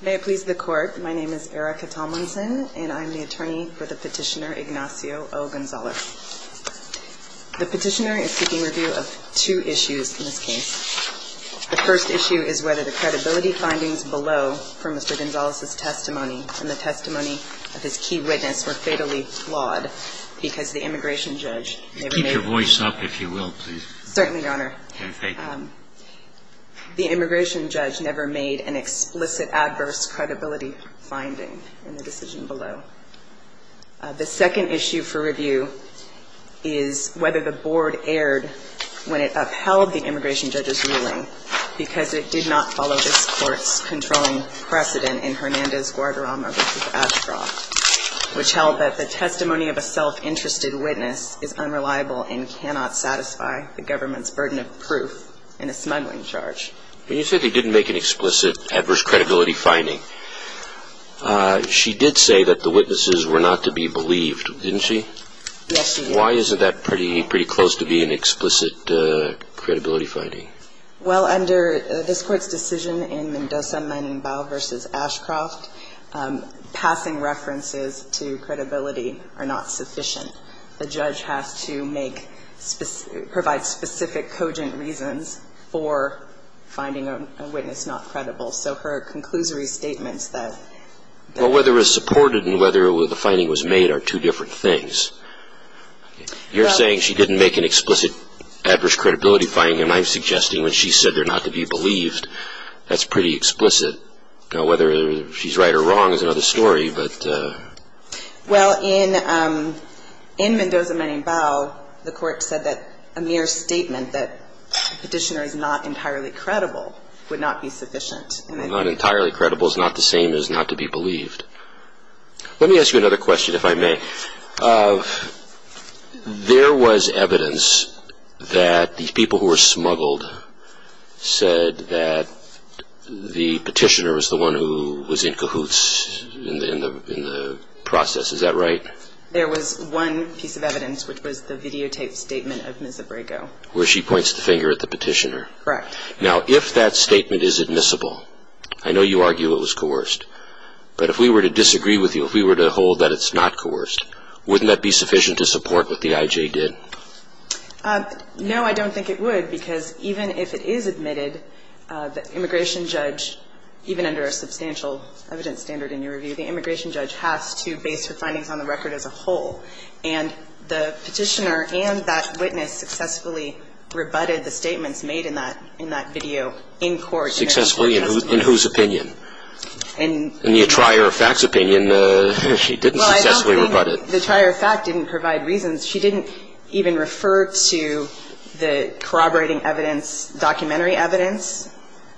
May it please the Court, my name is Erica Tomlinson, and I'm the attorney for the petitioner Ignacio O. Gonzalez. The petitioner is seeking review of two issues in this case. The first issue is whether the credibility findings below from Mr. Gonzalez's testimony and the testimony of his key witness were fatally flawed because the immigration judge never made Keep your voice up, if you will, please. Certainly, Your Honor. Okay. The immigration judge never made an explicit adverse credibility finding in the decision below. The second issue for review is whether the board erred when it upheld the immigration judge's ruling because it did not follow this Court's controlling precedent in Hernandez-Guadarrama v. Ashcroft, which held that the testimony of a self-interested witness is unreliable and cannot satisfy the government's burden of proof in a smuggling charge. When you said they didn't make an explicit adverse credibility finding, she did say that the witnesses were not to be believed, didn't she? Yes, she did. Why isn't that pretty close to being an explicit credibility finding? Well, under this Court's decision in Mendoza, Menembao v. Ashcroft, passing references to credibility are not sufficient. The judge has to make specific – provide specific cogent reasons for finding a witness not credible. So her conclusory statements that – Well, whether it was supported and whether the finding was made are two different things. You're saying she didn't make an explicit adverse credibility finding, and I'm suggesting when she said they're not to be believed, that's pretty explicit. Whether she's right or wrong is another story, but – Well, in Mendoza, Menembao, the Court said that a mere statement that the petitioner is not entirely credible would not be sufficient. Not entirely credible is not the same as not to be believed. Let me ask you another question, if I may. There was evidence that the people who were smuggled said that the petitioner was the one who was in cahoots in the process. Is that right? There was one piece of evidence, which was the videotaped statement of Ms. Abrego. Where she points the finger at the petitioner. Correct. Now, if that statement is admissible, I know you argue it was coerced, but if we were to disagree with you, if we were to hold that it's not coerced, wouldn't that be sufficient to support what the IJ did? No, I don't think it would, because even if it is admitted, the immigration judge, even under a substantial evidence standard in your review, the immigration judge has to base her findings on the record as a whole. And the petitioner and that witness successfully rebutted the statements made in that video in court. Successfully? In whose opinion? In the attirer of fact's opinion, she didn't successfully rebut it. Well, I don't think the attirer of fact didn't provide reasons. She didn't even refer to the corroborating evidence, documentary evidence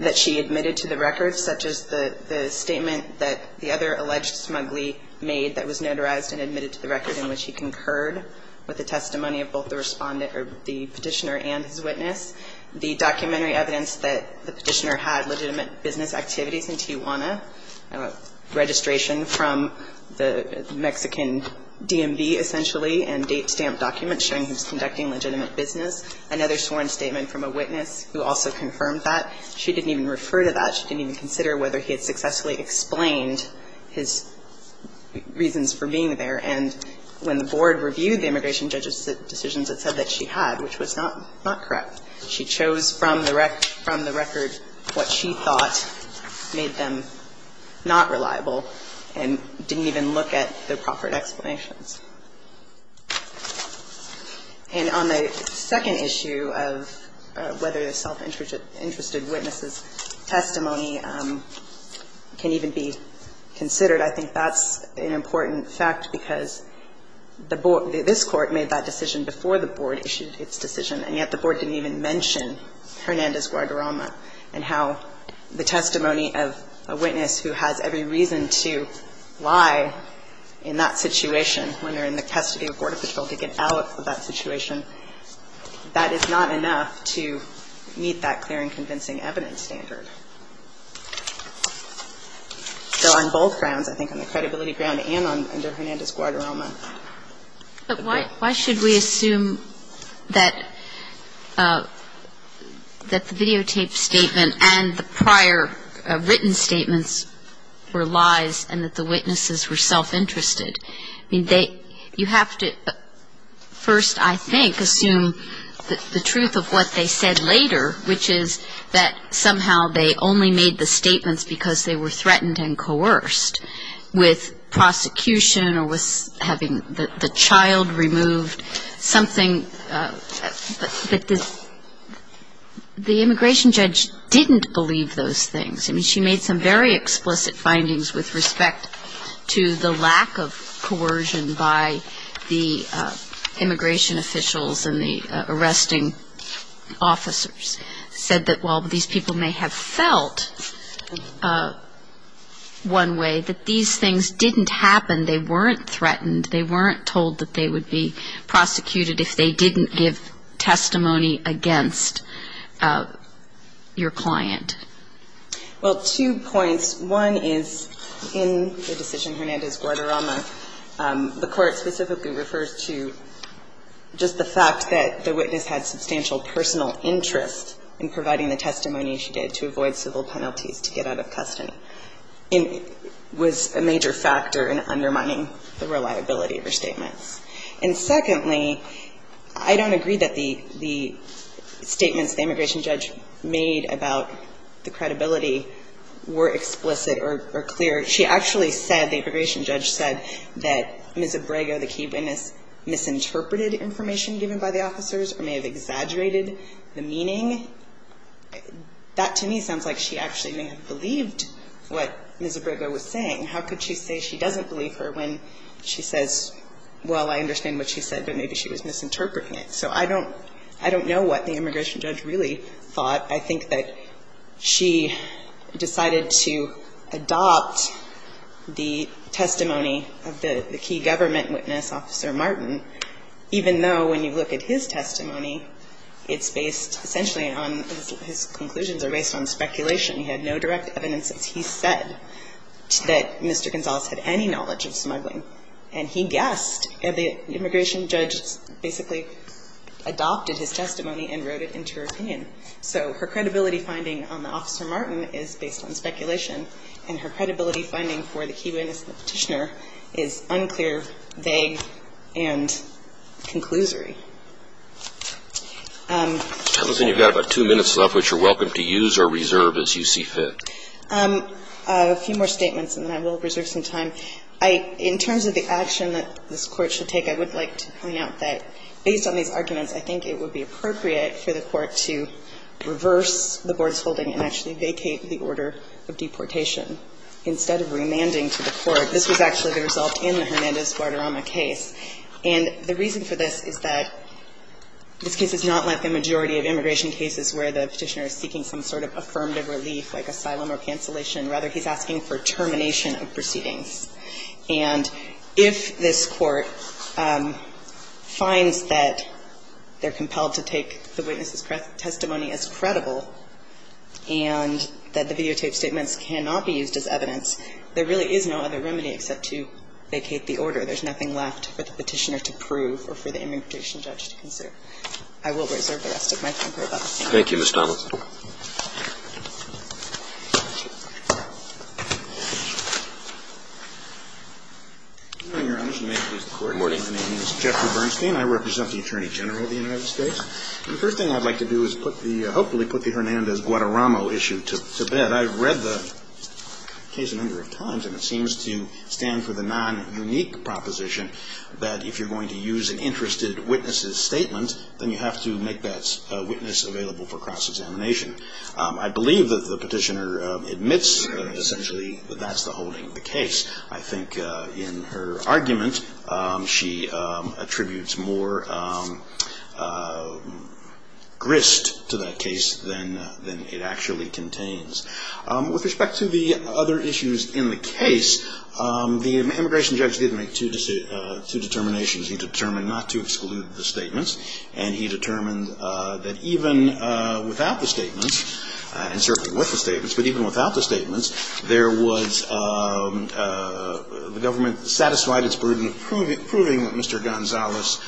that she admitted to the record, such as the statement that the other alleged smuggler made that was notarized and admitted to the record in which he concurred with the testimony of both the Respondent or the petitioner and his witness, the documentary evidence that the petitioner had legitimate business activities in Tijuana, registration from the Mexican DMV, essentially, and date stamp documents showing he was conducting legitimate business, another sworn statement from a witness who also confirmed that. She didn't even refer to that. She didn't even consider whether he had successfully explained his reasons for being there. And when the Board reviewed the immigration judge's decisions, it said that she had, which was not correct. She chose from the record what she thought made them not reliable and didn't even look at the proper explanations. And on the second issue of whether the self-interested witness's testimony can even be considered, I think that's an important fact, because the Board, this Court made that decision before the Board issued its decision, and yet the Board didn't even mention Hernandez-Guadarrama and how the testimony of a witness who has every reason to lie in that situation when they're in the custody of Border Patrol to get out of that situation. That is not enough to meet that clear and convincing evidence standard. So on both grounds, I think on the credibility ground and under Hernandez-Guadarrama. But why should we assume that the videotape statement and the prior written statements were lies and that the witnesses were self-interested? I mean, you have to first, I think, assume the truth of what they said later, which is that somehow they only made the statements because they were threatened and coerced with prosecution or with having the child removed, something. But the immigration judge didn't believe those things. I mean, she made some very explicit findings with respect to the lack of coercion by the immigration officials and the arresting officers, said that while these people may have felt one way, that these things didn't happen, they weren't threatened, they weren't told that they would be prosecuted if they didn't give testimony against your client. Well, two points. One is in the decision Hernandez-Guadarrama, the Court specifically refers to just the fact that the witness had substantial personal interest in providing the testimony she did to avoid civil penalties to get out of custody. It was a major factor in undermining the reliability of her statements. And secondly, I don't agree that the statements the immigration judge made about the credibility were explicit or clear. She actually said, the immigration judge said, that Ms. Abrego, the key witness, misinterpreted information given by the officers or may have exaggerated the meaning. That to me sounds like she actually may have believed what Ms. Abrego was saying. How could she say she doesn't believe her when she says, well, I understand what she said, but maybe she was misinterpreting it. So I don't know what the immigration judge really thought. I think that she decided to adopt the testimony of the key government witness, Officer Martin, even though when you look at his testimony, it's based essentially on his conclusions are based on speculation. He had no direct evidence that he said that Mr. Gonzales had any knowledge of smuggling. And he guessed. The immigration judge basically adopted his testimony and wrote it into her opinion. So her credibility finding on the Officer Martin is based on speculation, and her credibility finding for the key witness and the Petitioner is unclear, vague, and conclusory. Thank you. You've got about two minutes left, which you're welcome to use or reserve as you see fit. A few more statements and then I will reserve some time. In terms of the action that this Court should take, I would like to point out that based on these arguments, I think it would be appropriate for the Court to reverse the board's holding and actually vacate the order of deportation instead of remanding to the Court. This was actually the result in the Hernandez-Guadarrama case. And the reason for this is that this case is not like the majority of immigration cases where the Petitioner is seeking some sort of affirmative relief like asylum or cancellation. Rather, he's asking for termination of proceedings. And if this Court finds that they're compelled to take the witness's testimony as credible and that the videotaped statements cannot be used as evidence, there really is no other remedy except to vacate the order. There's nothing left for the Petitioner to prove or for the immigration judge to consider. I will reserve the rest of my time for about a minute. Roberts. Thank you, Ms. Donnell. Good morning, Your Honor. Good morning. My name is Jeffrey Bernstein. I represent the Attorney General of the United States. The first thing I'd like to do is put the, hopefully put the Hernandez-Guadarrama issue to bed. I've read the case a number of times, and it seems to stand for the non-unique proposition that if you're going to use an interested witness's statement, then you have to make that witness available for cross-examination. I believe that the Petitioner admits, essentially, that that's the holding of the case. I think in her argument, she attributes more grist to that case than it actually contains. With respect to the other issues in the case, the immigration judge did make two determinations. He determined not to exclude the statements, and he determined that even without the statements, and certainly with the statements, but even without the statements, there was, the government satisfied its burden of proving that Mr. Gonzalez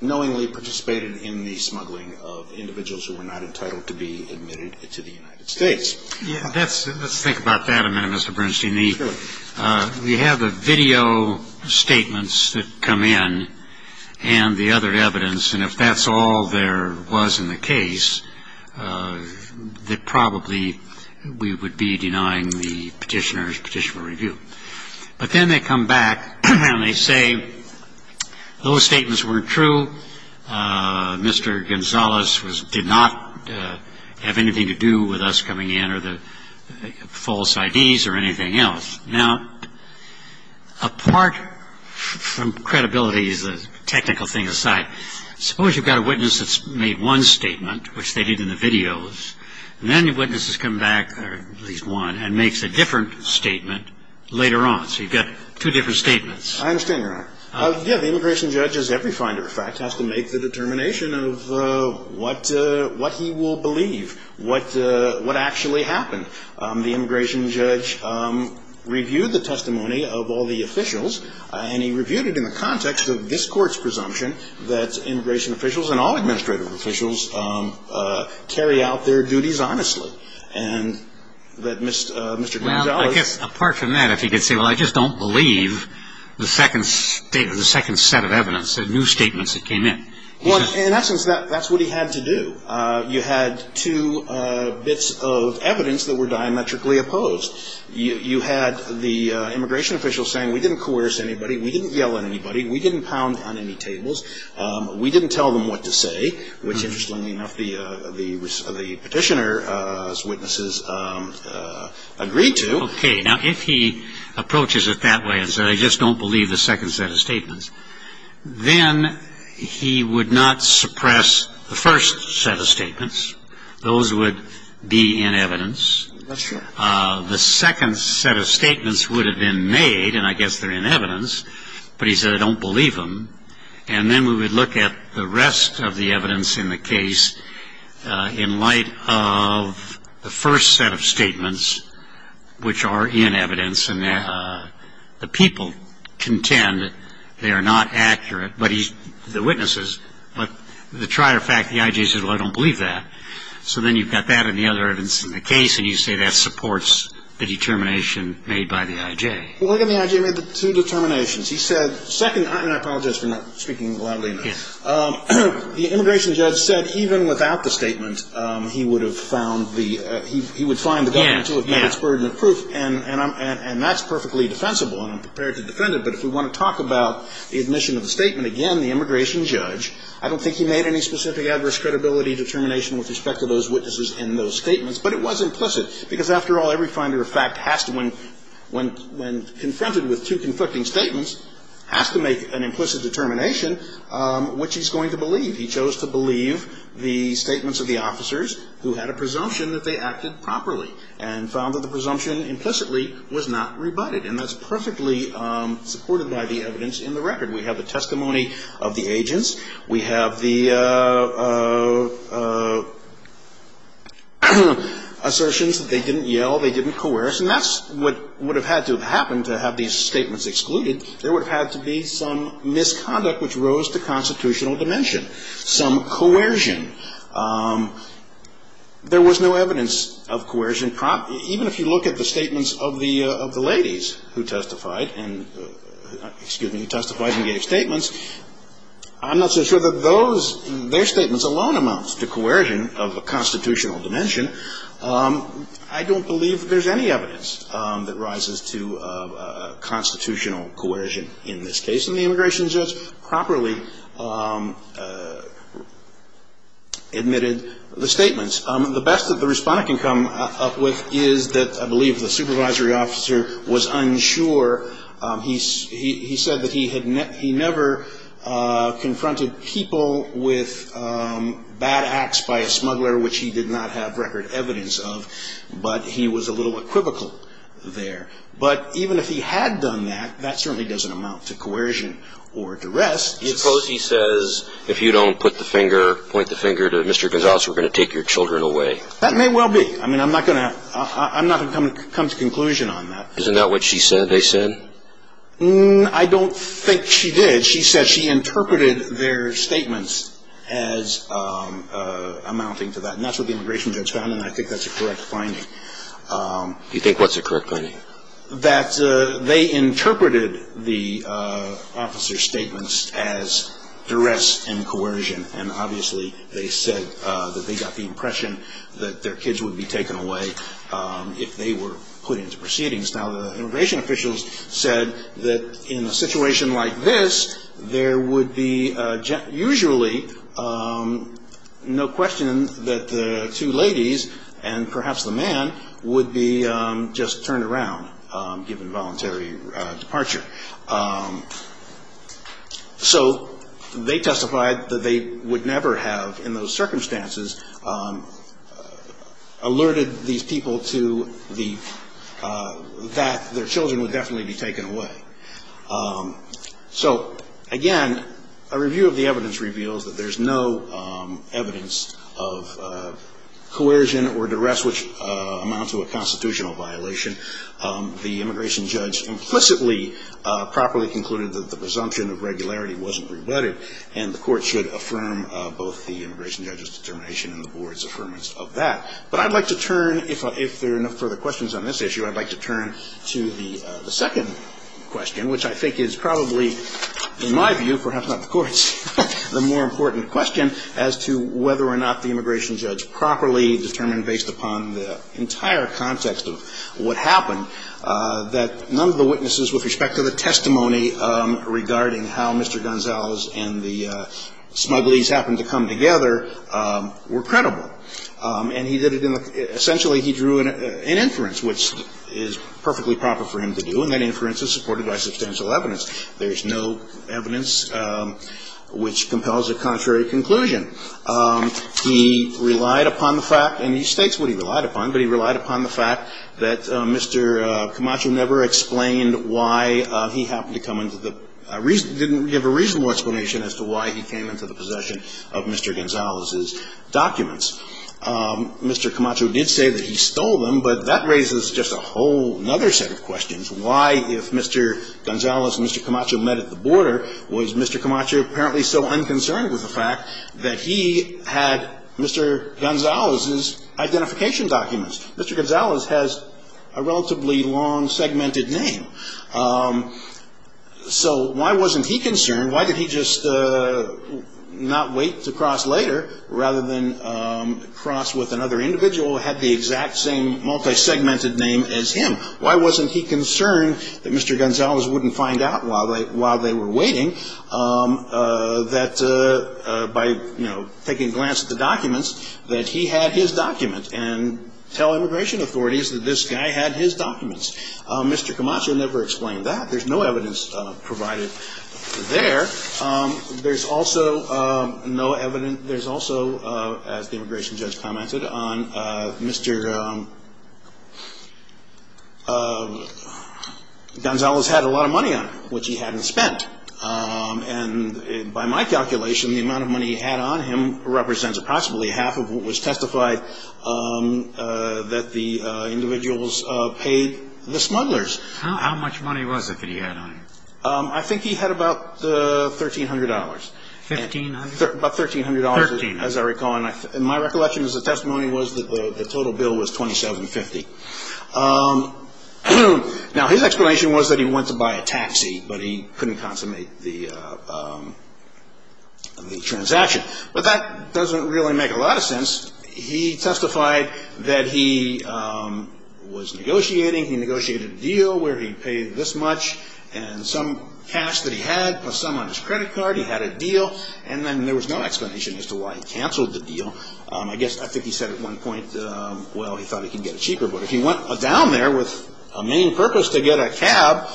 knowingly participated in the smuggling of individuals who were not entitled to be admitted to the United States. Yeah, that's, let's think about that a minute, Mr. Bernstein. Sure. We have the video statements that come in and the other evidence, and if that's all there was in the case, that probably we would be denying the Petitioner's petitioner review. But then they come back and they say, those statements weren't true, Mr. Gonzalez was, did not have anything to do with us coming in or the false IDs or anything else. Now, apart from credibility as a technical thing aside, suppose you've got a witness that's made one statement, which they did in the videos, and then your witness has come back, or at least one, and makes a different statement later on. So you've got two different statements. I understand your argument. Yeah, the immigration judge, as every finder of fact, has to make the determination of what he will believe, what actually happened. The immigration judge reviewed the testimony of all the officials, and he reviewed it in the context of this Court's presumption that immigration officials and all administrative officials carry out their duties honestly, and that Mr. Gonzalez I guess, apart from that, if he could say, well, I just don't believe the second set of evidence, the new statements that came in. Well, in essence, that's what he had to do. You had two bits of evidence that were diametrically opposed. You had the immigration official saying, we didn't coerce anybody, we didn't yell at anybody, we didn't pound on any tables, we didn't tell them what to say, which, interestingly enough, the Petitioner's witnesses agreed to. Okay. Now, if he approaches it that way and said, I just don't believe the second set of statements, then he would not suppress the first set of statements. Those would be in evidence. That's true. The second set of statements would have been made, and I guess they're in evidence, but he said I don't believe them. And then we would look at the rest of the evidence in the case in light of the first set of statements, which are in evidence, and the people contend they are not accurate, the witnesses, but the trier fact, the I.J. says, well, I don't believe that. So then you've got that and the other evidence in the case, and you say that supports the determination made by the I.J. Well, look at the I.J. He made two determinations. He said, second, and I apologize for not speaking loudly enough, the immigration judge said even without the statement, he would have found the he would find the government to have had its burden of proof, and that's perfectly defensible, and I'm prepared to defend it. But if we want to talk about the admission of the statement again, the immigration judge, I don't think he made any specific adverse credibility determination with respect to those witnesses in those statements, but it was implicit, because after all, every finder of fact has to, when confronted with two conflicting statements, has to make an implicit determination which he's going to believe. He chose to believe the statements of the officers who had a presumption that they acted properly and found that the presumption implicitly was not rebutted, and that's perfectly supported by the evidence in the record. We have the testimony of the agents. We have the assertions that they didn't yell, they didn't coerce, and that's what would have had to have happened to have these statements excluded. There would have had to be some misconduct which rose to constitutional dimension, some coercion. There was no evidence of coercion. Even if you look at the statements of the ladies who testified and gave statements, I'm not so sure that those, their statements alone amounts to coercion of a constitutional dimension. I don't believe there's any evidence that rises to constitutional coercion in this case, and the immigration judge properly admitted the statements. The best that the Respondent can come up with is that I believe the supervisory officer was unsure. He said that he never confronted people with bad acts by a smuggler, which he did not have record evidence of, but he was a little equivocal there. But even if he had done that, that certainly doesn't amount to coercion or duress. Suppose he says, if you don't put the finger, point the finger to Mr. Gonzales, we're going to take your children away. That may well be. I mean, I'm not going to come to conclusion on that. Isn't that what she said they said? I don't think she did. She said she interpreted their statements as amounting to that, and that's what the immigration judge found, and I think that's a correct finding. You think what's a correct finding? That they interpreted the officer's statements as duress and coercion, and obviously they said that they got the impression that their kids would be taken away if they were put into proceedings. Now, the immigration officials said that in a situation like this, there would be usually no question that the two ladies and perhaps the man would be just turned around given voluntary departure. So they testified that they would never have in those circumstances alerted these people to that their children would definitely be taken away. So, again, a review of the evidence reveals that there's no evidence of coercion or duress which amounts to a constitutional violation. The immigration judge implicitly properly concluded that the presumption of regularity wasn't rebutted, and the court should affirm both the immigration judge's determination and the board's affirmation of that. But I'd like to turn, if there are no further questions on this issue, I'd like to turn to the second question, which I think is probably, in my view, perhaps not the Court's, the more important question as to whether or not the immigration judge properly determined, based upon the entire context of what happened, that none of the witnesses with respect to the testimony regarding how Mr. Gonzales and the smugglies happened to come together were credible. And he did it in the – essentially, he drew an inference, which is perfectly proper for him to do, and that inference is supported by substantial evidence. There's no evidence which compels a contrary conclusion. He relied upon the fact, and he states what he relied upon, but he relied upon the fact that Mr. Camacho never explained why he happened to come into the – didn't give a reasonable explanation as to why he came into the possession of Mr. Gonzales' documents. Mr. Camacho did say that he stole them, but that raises just a whole other set of questions. Why, if Mr. Gonzales and Mr. Camacho met at the border, was Mr. Camacho apparently so unconcerned with the fact that he had Mr. Gonzales' identification documents? Mr. Gonzales has a relatively long segmented name. So why wasn't he concerned? Why did he just not wait to cross later rather than cross with another individual who had the exact same multi-segmented name as him? Why wasn't he concerned that Mr. Gonzales wouldn't find out while they – while they were waiting that by, you know, taking a glance at the documents, that he had his document and tell immigration authorities that this guy had his documents? Mr. Camacho never explained that. There's no evidence provided there. There's also no evidence – there's also, as the immigration judge commented, on Mr. Gonzales had a lot of money on him, which he hadn't spent. And by my calculation, the amount of money he had on him represents approximately half of what was testified that the individuals paid the smugglers. How much money was it that he had on him? I think he had about $1,300. $1,500? About $1,300. $1,300. As I recall. And my recollection as a testimony was that the total bill was $2,750. Now, his explanation was that he went to buy a taxi, but he couldn't consummate the transaction. But that doesn't really make a lot of sense. He testified that he was negotiating, he negotiated a deal where he paid this much and some cash that he had plus some on his credit card. He had a deal. And then there was no explanation as to why he canceled the deal. I think he said at one point, well, he thought he could get it cheaper. But if he went down there with a main purpose to get a cab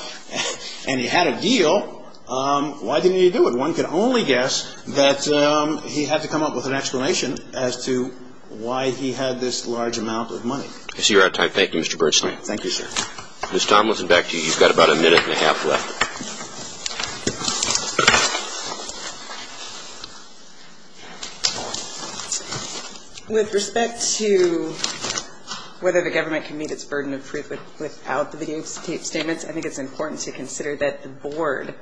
and he had a deal, why didn't he do it? So one could only guess that he had to come up with an explanation as to why he had this large amount of money. I see you're out of time. Thank you, Mr. Bernstein. Thank you, sir. Ms. Tomlinson, back to you. You've got about a minute and a half left. With respect to whether the government can meet its burden of proof without the videotaped statements, I think it's important to consider that the Board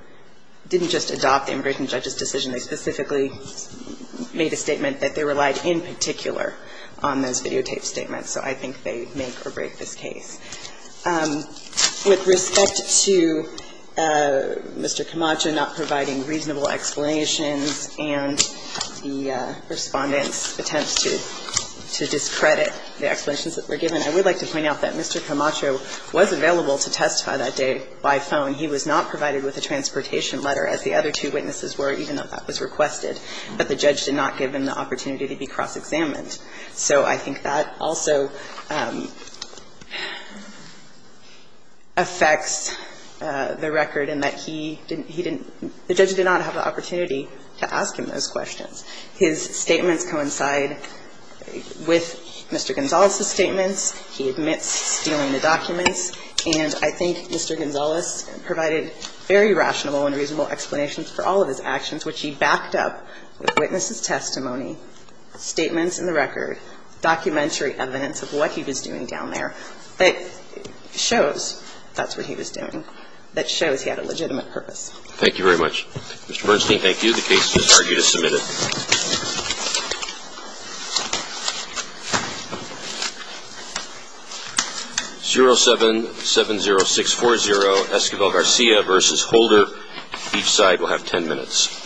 didn't just adopt the immigration judge's decision. They specifically made a statement that they relied in particular on those videotaped statements. So I think they make or break this case. With respect to Mr. Camacho not providing reasonable explanations and the Respondent's attempts to discredit the explanations that were given, I would like to point out that Mr. Camacho was available to testify that day by phone. He was not provided with a transportation letter, as the other two witnesses were, even though that was requested. But the judge did not give him the opportunity to be cross-examined. So I think that also affects the record in that he didn't – he didn't – the judge did not have the opportunity to ask him those questions. His statements coincide with Mr. Gonzales' statements. He admits stealing the documents. And I think Mr. Gonzales provided very rational and reasonable explanations for all of his actions, which he backed up with witnesses' testimony, statements in the record, documentary evidence of what he was doing down there, that shows that's what he was doing, that shows he had a legitimate purpose. Thank you very much. Mr. Bernstein, thank you. The case is argued as submitted. 0770640, Esquivel Garcia v. Holder. Each side will have 10 minutes.